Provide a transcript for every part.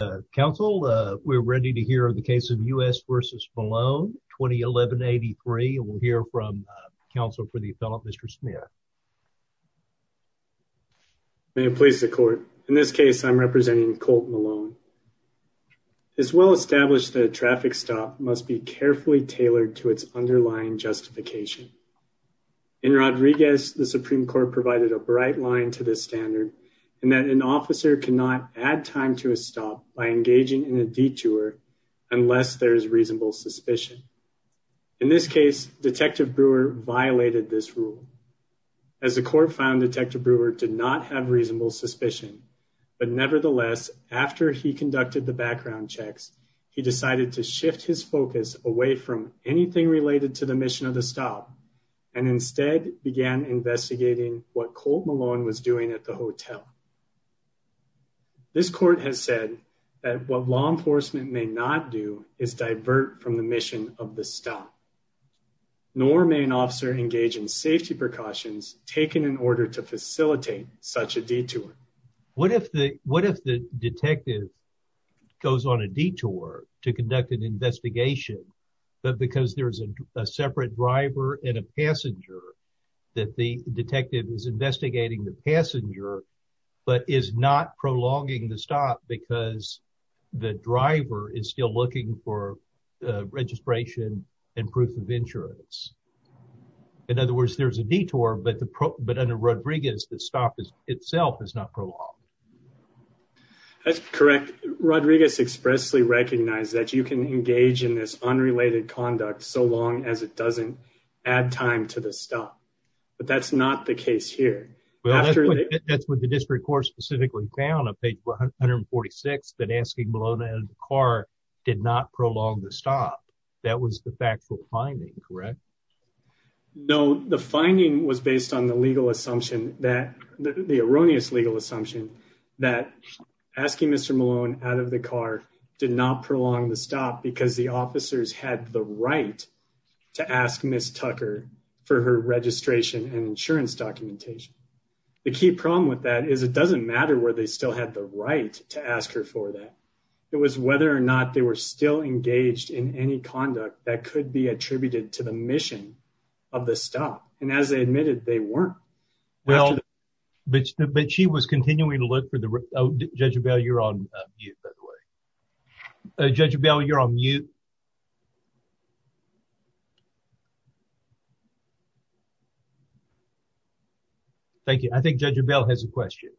May it please the court. In this case, I'm representing Colt Malone. It's well established that a traffic stop must be carefully tailored to its underlying justification. In Rodriguez, the Supreme Court provided a bright line to this standard in that an officer cannot add time to a stop by engaging in a detour unless there is reasonable suspicion. In this case, Detective Brewer violated this rule. As the court found, Detective Brewer did not have reasonable suspicion, but nevertheless, after he conducted the background checks, he decided to shift his focus away from anything related to the mission of the stop and instead began investigating what has said that what law enforcement may not do is divert from the mission of the stop, nor may an officer engage in safety precautions taken in order to facilitate such a detour. What if the what if the detective goes on a detour to conduct an investigation, but because there's a separate driver and a passenger that the detective is investigating the passenger but is not prolonging the stop because the driver is still looking for registration and proof of insurance. In other words, there's a detour, but the but under Rodriguez, the stop itself is not prolonged. That's correct. Rodriguez expressly recognized that you can engage in this unrelated conduct so long as it doesn't add time to the stop, but that's not the case here. Well, that's what the district court specifically found on page 146 that asking Malone out of the car did not prolong the stop. That was the factual finding, correct? No, the finding was based on the legal assumption that the erroneous legal assumption that asking Mr. Malone out of the car did not prolong the stop because the officers had the right to ask Miss Tucker for her registration and insurance documentation. The key problem with that is it doesn't matter where they still had the right to ask her for that. It was whether or not they were still engaged in any conduct that could be attributed to the mission of the stop. And as they admitted, they weren't. Well, but she was continuing to look for the judge. You're on you, by the way. Judge Bell, you're on you. Thank you. I think Judge Bell has a question.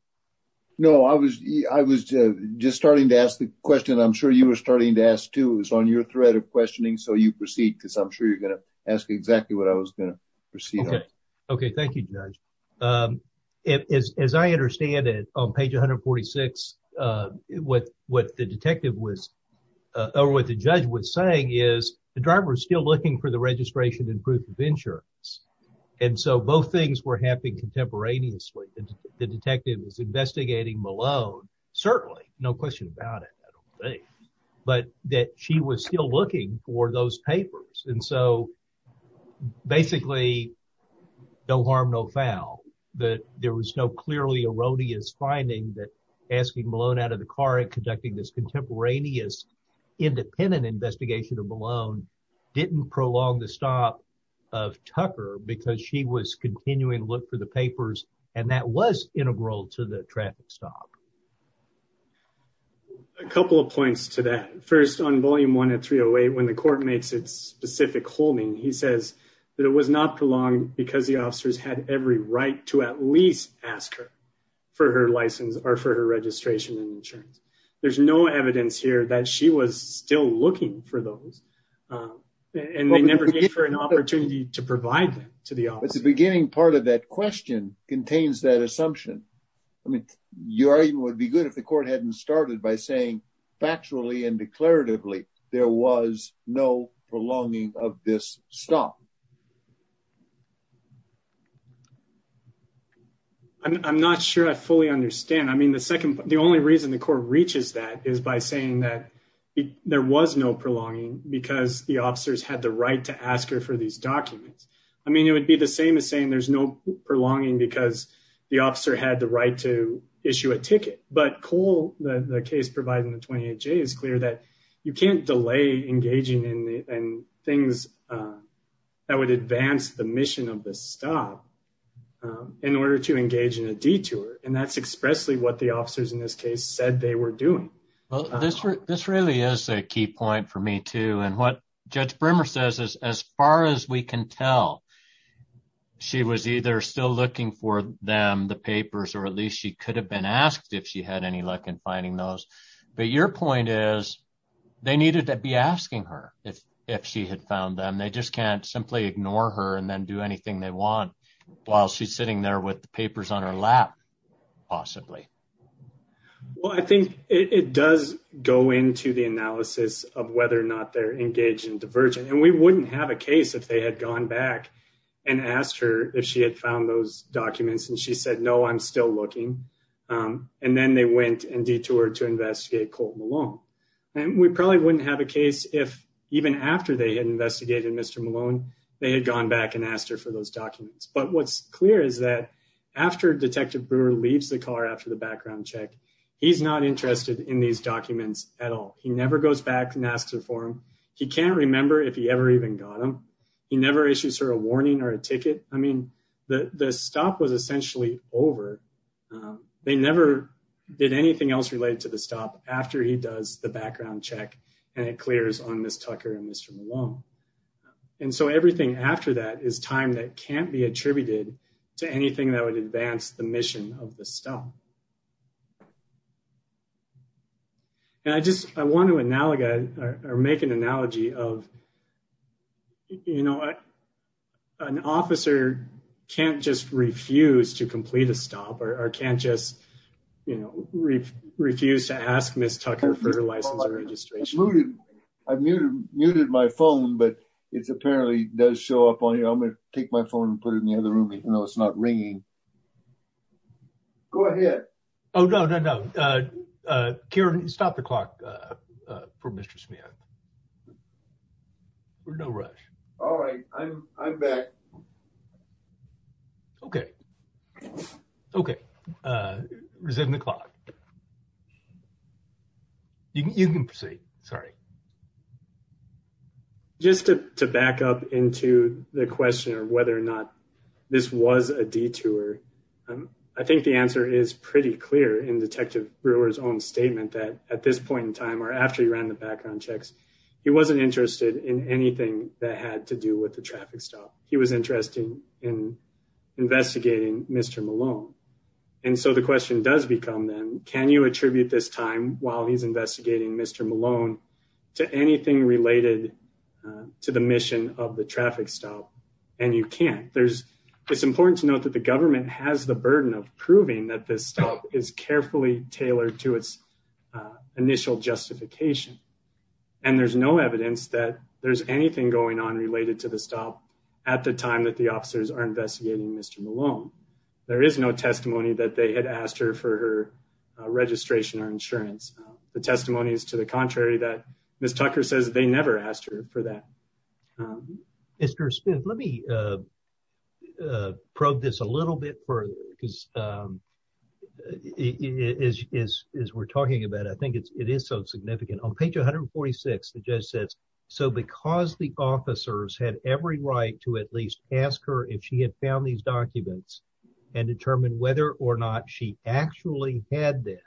No, I was I was just starting to ask the question. I'm sure you were starting to ask, too. It was on your thread of questioning. So you proceed because I'm sure you're going to ask exactly what I was going to proceed. Okay. Okay. Thank you, Judge. As I understand it on page 146, what what the detective was or what the judge was saying is the driver is still looking for the registration and proof of insurance. And so both things were happening contemporaneously. The detective was investigating Malone. Certainly. No question about it. But that she was still looking for those papers. And so basically, no harm, but there was no clearly erroneous finding that asking Malone out of the car and conducting this contemporaneous independent investigation of Malone didn't prolong the stop of Tucker because she was continuing to look for the papers. And that was integral to the traffic stop. A couple of points to that first on volume one at three away when the court makes its specific holding, he says that it was not prolonged because the officers had every right to at least ask her for her license or for her registration and insurance. There's no evidence here that she was still looking for those. And they never gave her an opportunity to provide to the beginning. Part of that question contains that assumption. I mean, your argument would be good if the court hadn't started by saying factually and declaratively there was no prolonging of this stop. I'm not sure I fully understand. I mean, the second the only reason the court reaches that is by saying that there was no prolonging because the officers had the right to ask her for these documents. I mean, it would be the same as saying there's no prolonging because the officer had the to issue a ticket. But Cole, the case providing the 28 J is clear that you can't delay engaging in things that would advance the mission of this stop in order to engage in a detour. And that's expressly what the officers in this case said they were doing. Well, this this really is a key point for me, too. And what Judge Brimmer says is as far as we can tell, she was either still looking for them, the papers, or at least she could have been asked if she had any luck in finding those. But your point is they needed to be asking her if if she had found them. They just can't simply ignore her and then do anything they want while she's sitting there with the papers on her lap, possibly. Well, I think it does go into the analysis of whether or not they're engaged in divergent. And we wouldn't have a case if they had gone back and asked her if she had found those documents and she said, no, I'm still looking. And then they went and detoured to investigate Colt Malone. And we probably wouldn't have a case if even after they had investigated Mr. Malone, they had gone back and asked her for those documents. But what's clear is that after Detective Brewer leaves the car after the background check, he's not interested in these documents at all. He never goes back and asks her for them. He can't remember if he ever even got them. He never issues her a warning or a ticket. I mean, the stop was essentially over. They never did anything else related to the stop after he does the background check and it clears on Ms. Tucker and Mr. Malone. And so everything after that is time that can't be attributed to anything that would advance the mission of the stop. And I just, I want to analogize or make an analogy of, you know, an officer can't just refuse to complete a stop or can't just, you know, refuse to ask Ms. Tucker for her license or registration. I've muted my phone, but it's apparently does show up on here. I'm going to take my phone and put it in the other room, even though it's not ringing. Go ahead. Oh, no, no, no. Karen, stop the clock for Mr. Smith. No rush. All right. I'm back. Okay. Okay. Resume the clock. You can proceed. Sorry. Just to back up into the question of whether or not this was a detour. I think the answer is pretty clear in Detective Brewer's own statement that at this point in time, or after he ran the background checks, he wasn't interested in anything that had to do with the traffic stop. He was interested in investigating Mr. Malone. And so the question does become then, can you attribute this time while he's investigating Mr. Malone to anything related to the mission of the traffic stop? And you can't. It's important to note that the government has the burden of proving that this stop is carefully tailored to its initial justification. And there's no evidence that there's anything going on related to the stop at the time that the officers are investigating Mr. Malone. There is no testimony that they had asked her for her registration or insurance. The testimony is to the contrary that Ms. Tucker says they never asked her for that. Mr. Smith, let me probe this a little bit further because as we're talking about, I think it is so significant. On page 146, the judge says, so because the officers had every right to at least ask her if she had found these documents and determine whether or not she actually had them,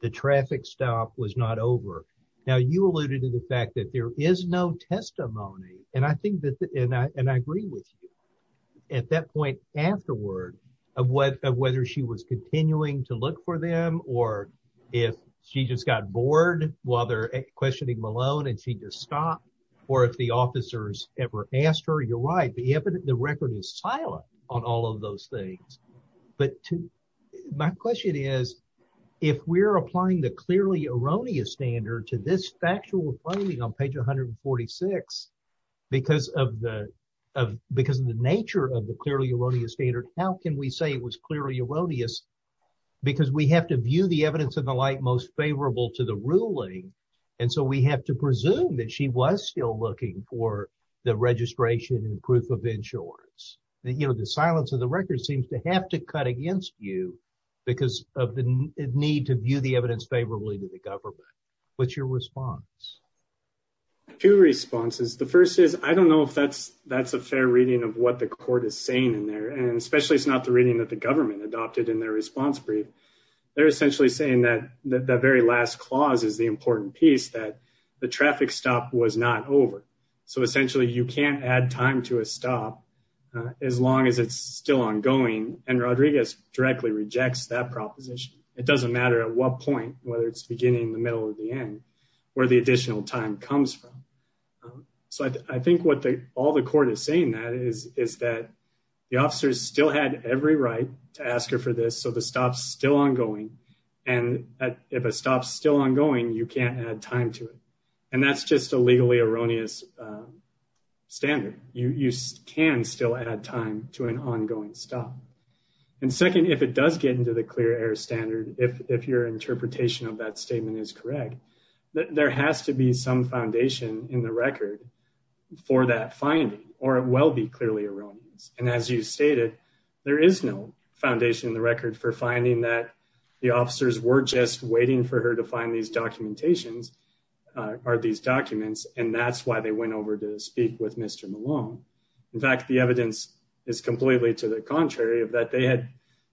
the traffic stop was not over. Now you alluded to the fact that there is no testimony. And I think that, and I agree with you, at that point afterward of whether she was continuing to look for them or if she just got bored while they're questioning Malone and she stopped or if the officers ever asked her, you're right, the record is silent on all of those things. But my question is, if we're applying the clearly erroneous standard to this factual finding on page 146, because of the nature of the clearly erroneous standard, how can we say it was clearly erroneous? Because we have to view the evidence of the light most favorable to the she was still looking for the registration and proof of insurance. The silence of the record seems to have to cut against you because of the need to view the evidence favorably to the government. What's your response? Two responses. The first is, I don't know if that's a fair reading of what the court is saying in there. And especially it's not the reading that the government adopted in their response brief. They're essentially saying that the very last clause is the important piece that the traffic stop was not over. So essentially you can't add time to a stop as long as it's still ongoing. And Rodriguez directly rejects that proposition. It doesn't matter at what point, whether it's beginning, the middle or the end, where the additional time comes from. So I think what the, all the court is saying that is, is that the officers still had every right to ask her for this. So the stop's still ongoing. And if a stop's still ongoing, you can't add time to it. And that's just a legally erroneous standard. You can still add time to an ongoing stop. And second, if it does get into the clear air standard, if your interpretation of that statement is correct, there has to be some foundation in the record for that finding, or it will be clearly erroneous. And as you stated, there is no foundation in the record for finding that the officers were just waiting for her to find these documentations, or these documents, and that's why they went over to speak with Mr. Malone. In fact, the evidence is completely to the contrary of that. They had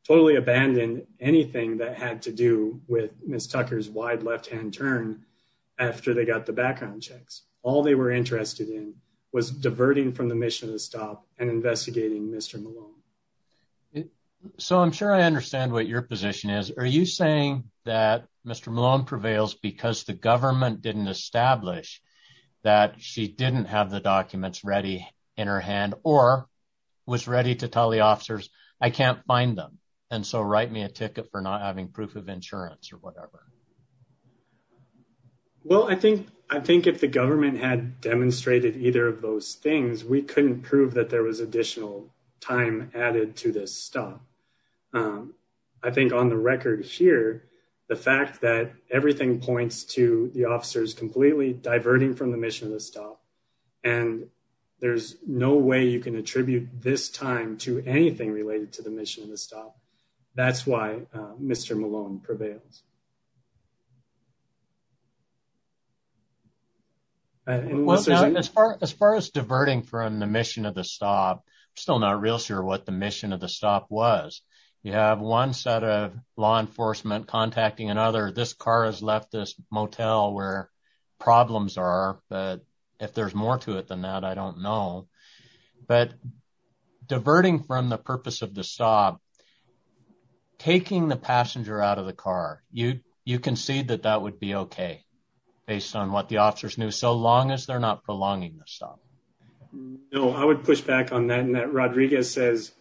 totally abandoned anything that had to do with Ms. Tucker's wide left-hand turn after they got the background checks. All they were interested in was diverting from the mission of the stop and investigating Mr. Malone. So I'm sure I understand what your position is. Are you saying that Mr. Malone prevails because the government didn't establish that she didn't have the documents ready in her hand, or was ready to tell the officers, I can't find them, and so write me a ticket for not having proof of insurance or whatever? Well, I think if the government had demonstrated either of those things, we couldn't prove that there was additional time added to this stop. I think on the record here, the fact that everything points to the officers completely diverting from the mission of the stop, and there's no way you can attribute this time to anything related to the of the stop. I'm still not real sure what the mission of the stop was. You have one set of law enforcement contacting another. This car has left this motel where problems are, but if there's more to it than that, I don't know. But diverting from the purpose of the stop, taking the passenger out of the car, you can see that that would be okay based on what the officers knew, so long as they're not prolonging the stop. No, I would push back on that. Rodriguez says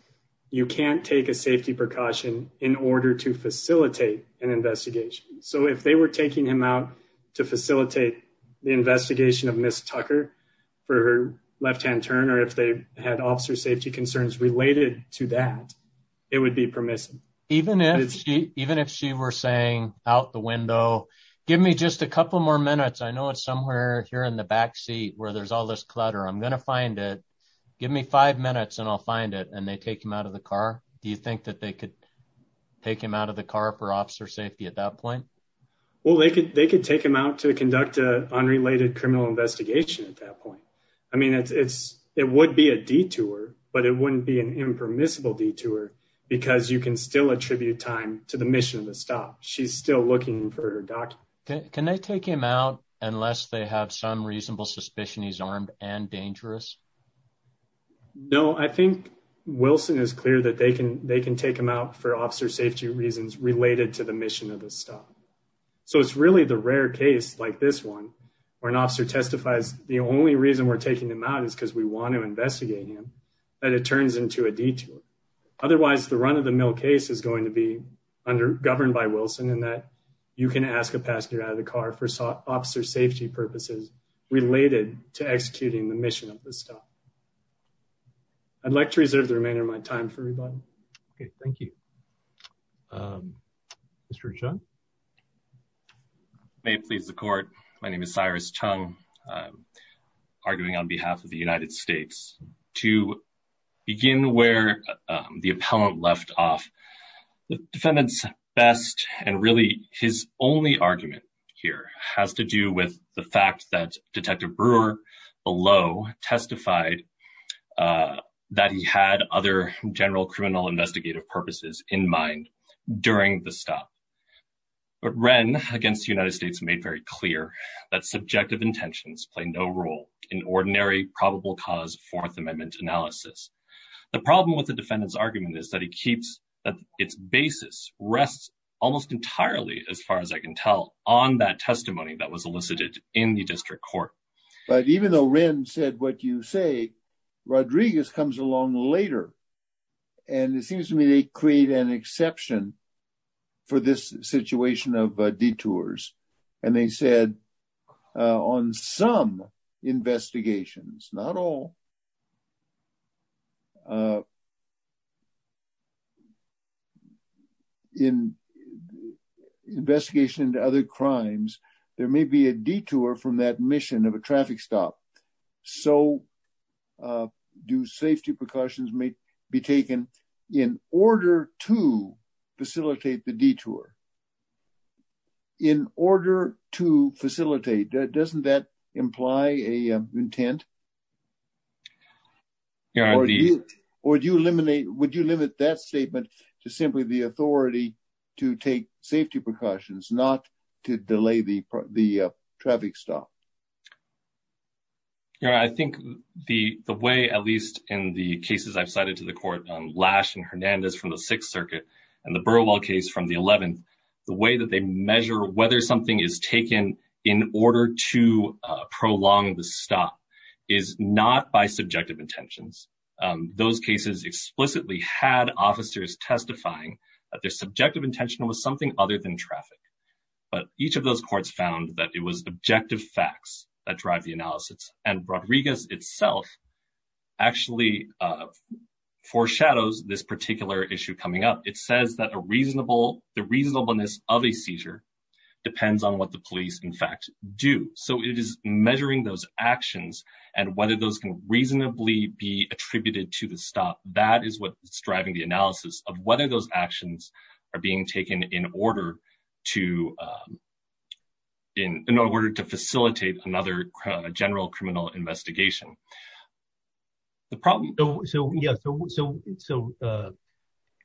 you can't take a safety precaution in order to facilitate an investigation. So if they were taking him out to facilitate the investigation of Ms. Tucker for her left-hand turn, or if they had officer safety concerns related to that, it would be permissive. Even if she were saying out the window, give me just a couple more minutes. I know it's somewhere here in the back seat where there's all this clutter. I'm going to find it. Give me five minutes and I'll find it, and they take him out of the car. Do you think that they could take him out of the car for officer safety at that point? Well, they could take him out to conduct an unrelated criminal investigation at that point. I mean, it would be a detour, but it wouldn't be an impermissible detour because you can still for her document. Can they take him out unless they have some reasonable suspicion he's armed and dangerous? No, I think Wilson is clear that they can take him out for officer safety reasons related to the mission of the stop. So it's really the rare case like this one, where an officer testifies the only reason we're taking him out is because we want to investigate him, that it turns into a detour. Otherwise, the run-of-the-mill case is going to be governed by Wilson and that you can ask a passenger out of the car for officer safety purposes related to executing the mission of the stop. I'd like to reserve the remainder of my time for everybody. Okay, thank you. Mr. Chung? May it please the court, my name is Cyrus Chung, arguing on behalf of the United States. To begin where the appellant left off, the defendant's best and really his only argument here has to do with the fact that Detective Brewer below testified that he had other general criminal investigative purposes in mind during the stop. But Wren, against the United States, made very clear that subjective intentions play no role in ordinary probable cause Fourth Amendment analysis. The problem with the defendant's argument is that it's basis rests almost entirely, as far as I can tell, on that testimony that was elicited in the district court. But even though Wren said what you say, Rodriguez comes along later and it seems to me they create an exception for this situation of detours and they said on some investigations, not all, but in investigation into other crimes, there may be a detour from that mission of a traffic stop. So, do safety precautions may be taken in order to facilitate the detour? In order to facilitate, doesn't that imply an intent? Yeah, or do you eliminate, would you limit that statement to simply the authority to take safety precautions, not to delay the traffic stop? Yeah, I think the way, at least in the cases I've cited to the court, Lash and Hernandez from the Sixth Circuit and the Burwell case from the 11th, the way that they measure whether something is taken in order to prolong the stop is not by subjective intentions. Those cases explicitly had officers testifying that their subjective intention was something other than traffic, but each of those courts found that it was objective facts that drive the analysis and foreshadows this particular issue coming up. It says that the reasonableness of a seizure depends on what the police, in fact, do. So, it is measuring those actions and whether those can reasonably be attributed to the stop. That is what's driving the analysis of whether those actions are being taken in order to facilitate another general criminal investigation. So,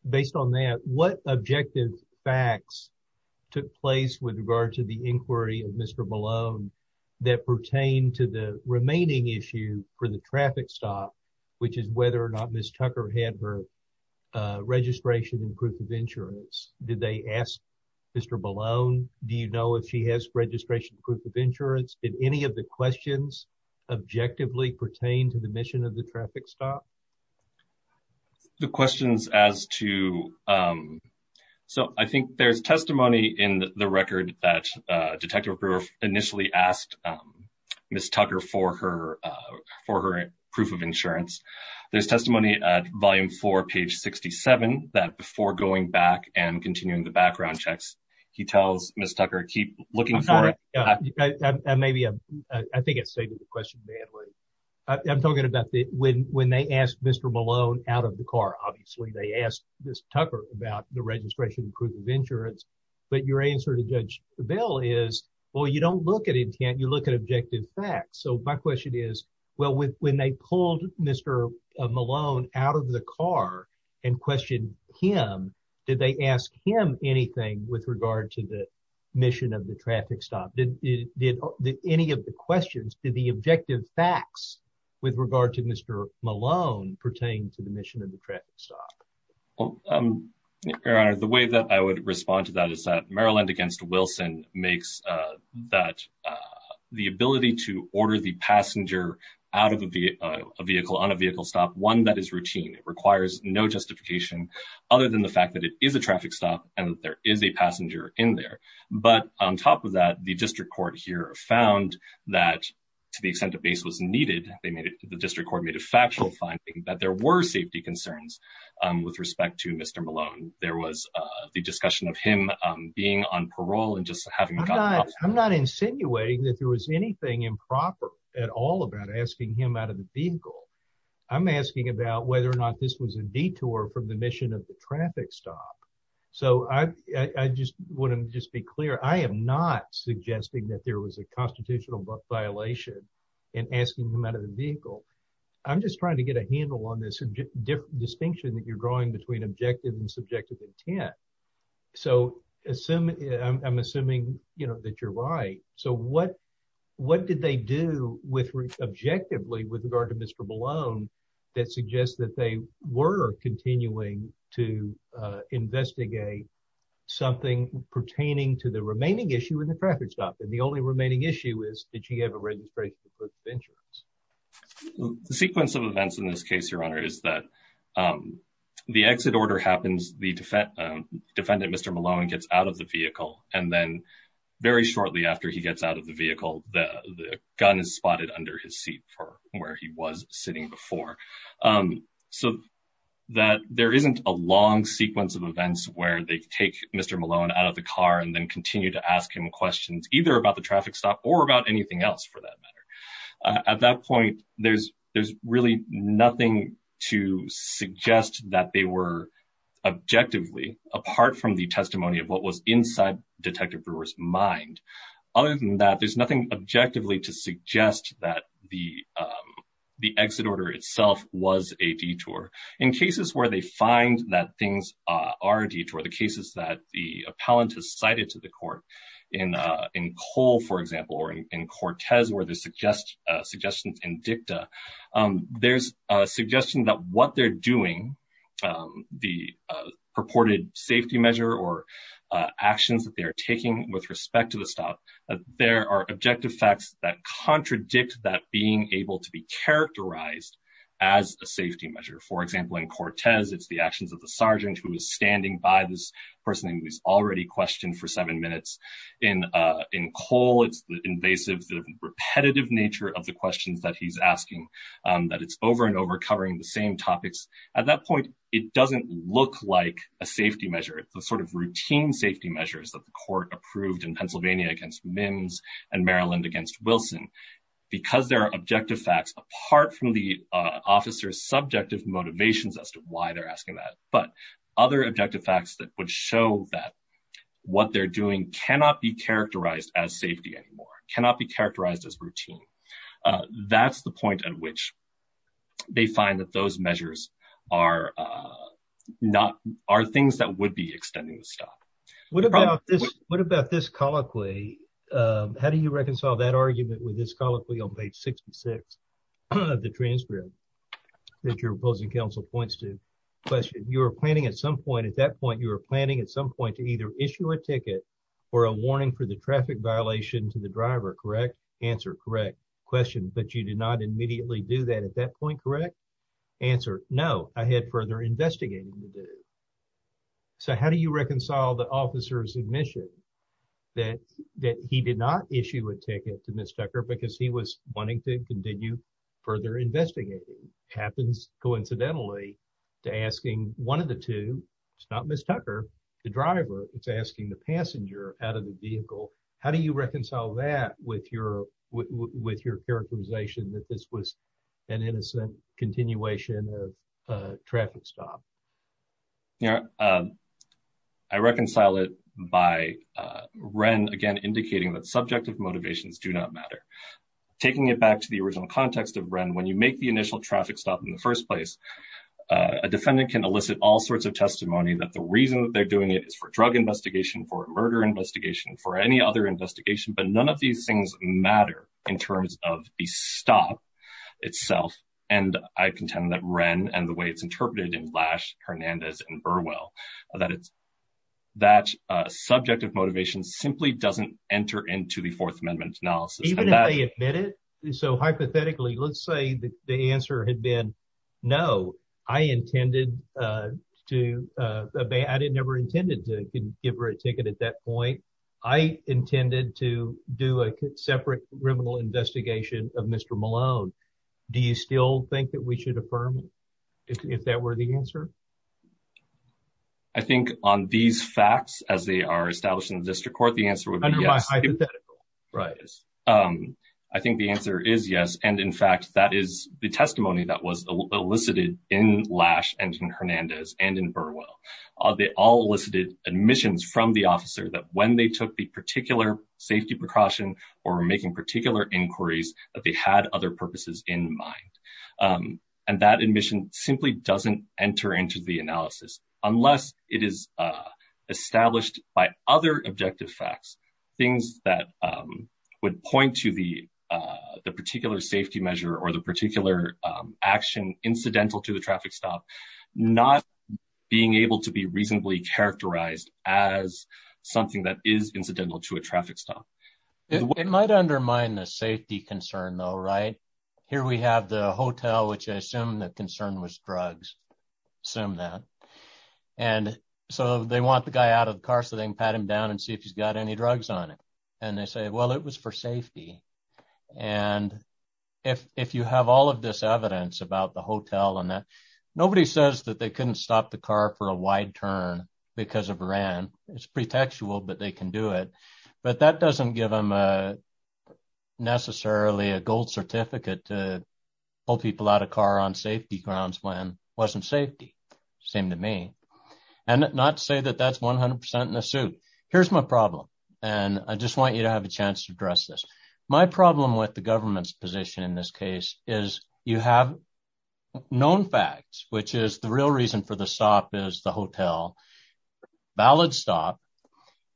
based on that, what objective facts took place with regard to the inquiry of Mr. Ballone that pertain to the remaining issue for the traffic stop, which is whether or not Ms. Tucker had her registration and proof of insurance? Did they ask Mr. Ballone, do you know if she has registration and proof of insurance? Did any of the questions objectively pertain to the mission of the traffic stop? The questions as to... So, I think there's testimony in the record that Detective Brewer initially asked Ms. Tucker for her proof of insurance. There's testimony at volume four, page 67, that before going back and continuing the background checks, he tells Ms. Tucker, keep looking for it. I think I saved the question badly. I'm talking about when they asked Mr. Ballone out of the car. Obviously, they asked Ms. Tucker about the registration and proof of insurance, but your answer to Judge Bell is, well, you don't look at intent, you look at objective facts. So, my question is, well, when they pulled Mr. Ballone out of the car and questioned him, did they ask him anything with regard to the mission of the traffic stop? Did any of the questions, did the objective facts with regard to Mr. Ballone pertain to the mission of the traffic stop? Your Honor, the way that I would respond to that is that Maryland against Wilson makes that the ability to order the passenger out of a vehicle, on a vehicle stop, one that is routine. It requires no justification other than the fact that it is a traffic stop and that there is a passenger in there. But, on top of that, the district court here found that, to the extent the base was needed, they made it, the district court made a factual finding that there were safety concerns with respect to Mr. Ballone. There was the discussion of him being on parole and just having- I'm not insinuating that there was anything improper at all about asking him out of the vehicle, about whether or not this was a detour from the mission of the traffic stop. So, I just want to just be clear, I am not suggesting that there was a constitutional violation in asking him out of the vehicle. I'm just trying to get a handle on this distinction that you're drawing between objective and subjective intent. So, I'm assuming, you know, that you're right. So, what did they do with, objectively, with regard to Mr. Ballone that suggests that they were continuing to investigate something pertaining to the remaining issue in the traffic stop? And the only remaining issue is, did you have a registration of insurance? The sequence of events in this case, Your Honor, is that the exit order happens, the defendant, Mr. Ballone, gets out of the vehicle, and then, very shortly after he gets out of the vehicle, the gun is spotted under his seat for where he was sitting before. So, that there isn't a long sequence of events where they take Mr. Ballone out of the car and then continue to ask him questions, either about the traffic stop or about anything else, for that matter. At that point, there's really nothing to suggest that they were, objectively, apart from the testimony of what was inside Detective Brewer's mind. Other than that, there's nothing objectively to suggest that the exit order itself was a detour. In cases where they find that things are a detour, the cases that the appellant has cited to the court, in Cole, for example, or in Cortez, where there's suggestions in dicta, there's a suggestion that what they're doing, the purported safety measure or actions that they are taking with respect to the stop, there are objective facts that contradict that being able to be characterized as a safety measure. For example, in Cortez, it's the actions of the sergeant who is standing by this person who is already questioned for seven minutes. In Cole, it's the invasive, repetitive nature of the questions that he's asking, that it's over and over, covering the same topics. At that point, it doesn't look like a safety measure. It's the sort of routine safety measures that the court approved in Pennsylvania against Mims and Maryland against Wilson. Because there are objective facts, apart from the officer's subjective motivations as to why they're asking that, but other objective facts that would show that what they're doing cannot be characterized as safety anymore, cannot be characterized as routine. That's the point at which they find that those measures are things that would be extending the stop. What about this colloquy? How do you reconcile that argument with this colloquy on page 66 of the transcript that your opposing counsel points to? You were planning at some point to issue a ticket for a warning for the traffic violation to the driver, correct? Answer, correct. Question, but you did not immediately do that at that point, correct? Answer, no, I had further investigating to do. So how do you reconcile the officer's admission that he did not issue a ticket to Ms. Tucker because he was wanting to continue further investigating? It happens coincidentally to asking one of the two, it's not Ms. Tucker, the driver, it's asking the passenger out of the vehicle. How do you reconcile that with your characterization that this was an innocent continuation of a traffic stop? I reconcile it by Wren, again, indicating that subjective motivations do not matter. Taking it back to the original context of Wren, when you make the initial traffic stop in the drug investigation, for a murder investigation, for any other investigation, but none of these things matter in terms of the stop itself. And I contend that Wren and the way it's interpreted in Lash, Hernandez, and Burwell, that subjective motivation simply doesn't enter into the Fourth Amendment analysis. Even if they admit it, so hypothetically, let's say the answer had been, no, I never intended to give her a ticket at that point. I intended to do a separate criminal investigation of Mr. Malone. Do you still think that we should affirm it, if that were the answer? I think on these facts, as they are established in the District Court, the answer would be yes. I think the answer is yes. And in fact, that is the testimony that elicited in Lash and in Hernandez and in Burwell. They all elicited admissions from the officer that when they took the particular safety precaution or were making particular inquiries, that they had other purposes in mind. And that admission simply doesn't enter into the analysis, unless it is established by other objective facts, things that would point to the particular safety measure or the particular action incidental to the traffic stop, not being able to be reasonably characterized as something that is incidental to a traffic stop. It might undermine the safety concern though, right? Here we have the hotel, which I assume the concern was drugs, assume that. And so they want the guy out of the car so they can pat him down and see if he's got any drugs on him. And they say, well, it was for safety. And if you have all of this evidence about the hotel and that, nobody says that they couldn't stop the car for a wide turn because of ran. It's pretextual, but they can do it. But that doesn't give them necessarily a gold certificate to pull people out of car on safety grounds when it wasn't safety. Same to me. And not to say that that's 100% in the suit. Here's my problem. And I just want you to have a chance to address this. My problem with the government's position in this case is you have known facts, which is the real reason for the stop is the hotel, valid stop.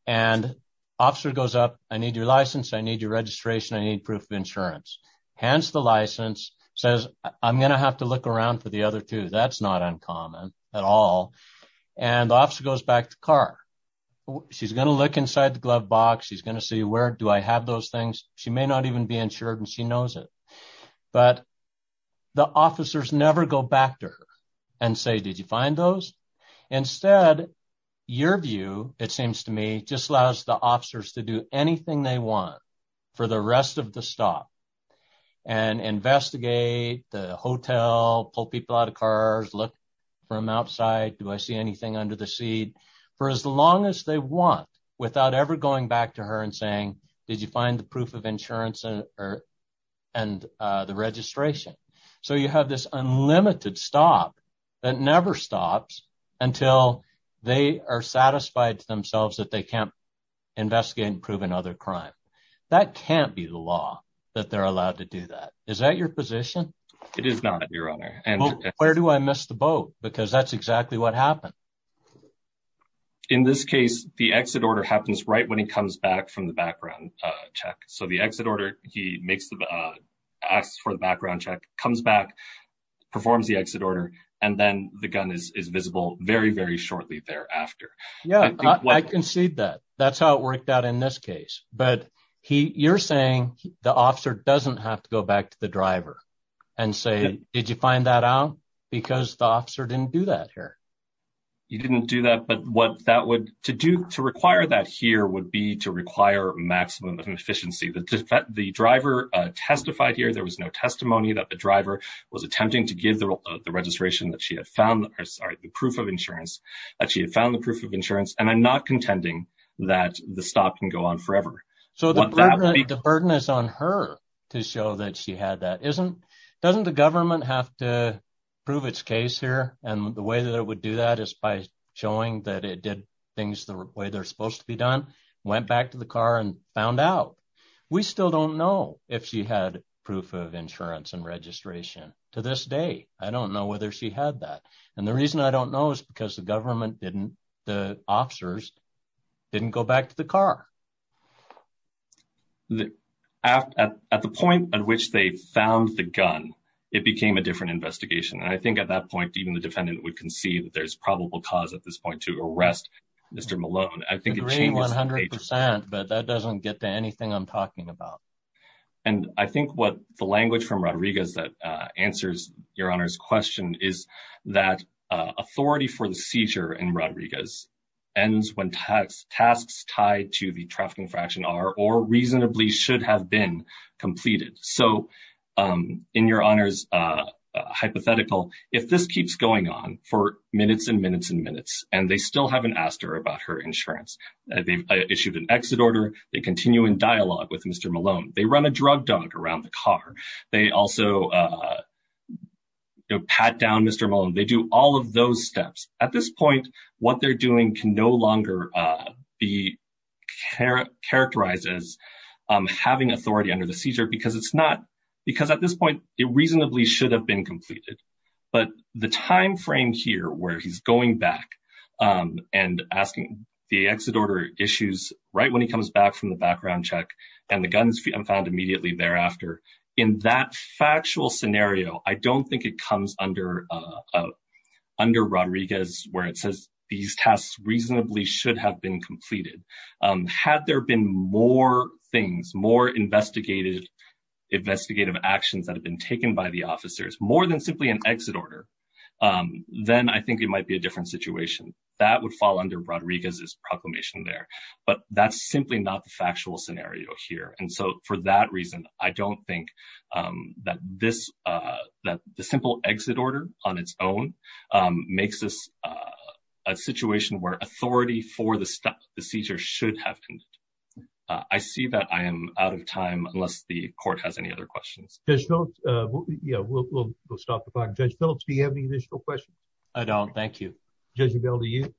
And officer goes up, I need your license. I need your registration. I need proof of insurance. Hands the license, says I'm at all. And the officer goes back to car. She's going to look inside the glove box. She's going to see where do I have those things? She may not even be insured and she knows it, but the officers never go back to her and say, did you find those? Instead, your view, it seems to me just allows the officers to do anything they want for the rest of the stop and investigate the hotel, pull people out of cars, look from outside. Do I see anything under the seat for as long as they want without ever going back to her and saying, did you find the proof of insurance and the registration? So you have this unlimited stop that never stops until they are satisfied to themselves that they can't investigate and prove another crime. That can't be the law that they're allowed to do that. Is that your position? It is not your honor. And where do I miss the boat? Because that's exactly what happened in this case, the exit order happens right when he comes back from the background check. So the exit order, he makes the, uh, asks for the background check, comes back, performs the exit order, and then the gun is visible very, very shortly thereafter. Yeah, I concede that that's how it worked out in this case, but he you're saying the officer doesn't have to go back to the driver and say, did you find that out? Because the officer didn't do that here. You didn't do that. But what that would to do to require that here would be to require maximum efficiency. The driver testified here, there was no testimony that the driver was attempting to give the registration that she had found the proof of insurance that she had found the proof of insurance. And I'm not contending that the stop can go on forever. So the burden is on her to show that she had that isn't, doesn't the government have to prove its case here. And the way that it would do that is by showing that it did things the way they're supposed to be done, went back to the car and found out. We still don't know if she had proof of insurance and registration to this day. I don't know whether she had that. And the reason I don't know is because the government didn't, the officers didn't go back to the car. At the point at which they found the gun, it became a different investigation. And I think at that point, even the defendant would concede that there's probable cause at this point to arrest Mr. Malone. I think it's 100%, but that doesn't get to anything I'm talking about. And I think what the language from Rodriguez that answers your honor's question is that authority for the seizure in Rodriguez ends when tasks tied to the trafficking fraction are or reasonably should have been completed. So in your honor's hypothetical, if this keeps going on for minutes and minutes and minutes, and they still haven't asked her about her insurance, they've issued an exit order. They continue in dialogue with Mr. Malone. They run a drug dog around the car. They also pat down Mr. Malone. They do all of those steps. At this point, what they're doing can no longer be characterized as having authority under the seizure because at this point, it reasonably should have been completed. But the timeframe here where he's going back and asking the exit order issues right when he comes back from the background check and guns found immediately thereafter, in that factual scenario, I don't think it comes under Rodriguez where it says these tasks reasonably should have been completed. Had there been more things, more investigative actions that have been taken by the officers, more than simply an exit order, then I think it might be a different situation. That would fall under Rodriguez's proclamation there. But that's simply not the factual scenario here. And so for that reason, I don't think that the simple exit order on its own makes this a situation where authority for the seizure should have been. I see that I am out of time, unless the court has any other questions. We'll stop the clock. Judge Phillips, do you have any additional questions? I don't. Thank you. Judge Rebell, do you?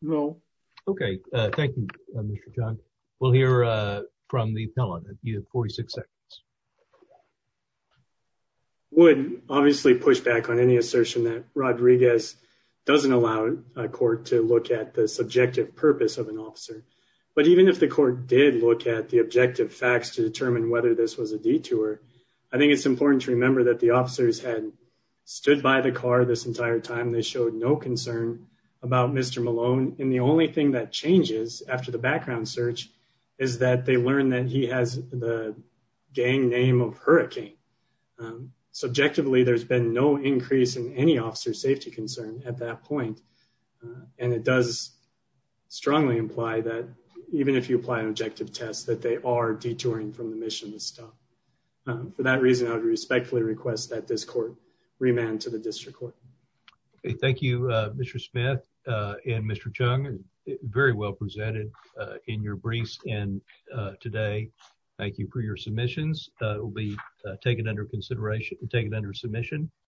No. Okay. Thank you, Mr. John. We'll hear from the appellant. You have 46 seconds. I would obviously push back on any assertion that Rodriguez doesn't allow a court to look at the subjective purpose of an officer. But even if the court did look at the objective facts to determine whether this was a detour, I think it's important to remember that the officers had stood by the car this entire time. They showed no concern about Mr. Malone. And the only thing that changes after the background search is that they learned that he has the gang name of Hurricane. Subjectively, there's been no increase in any officer safety concern at that point. And it does strongly imply that even if you apply an objective test, that they are detouring from the mission to stop. For that reason, I would respectfully request that this court remand to the district court. Okay. Thank you, Mr. Smith and Mr. Chung. Very well presented in your briefs and today. Thank you for your submissions. It will be taken under consideration and taken under submission.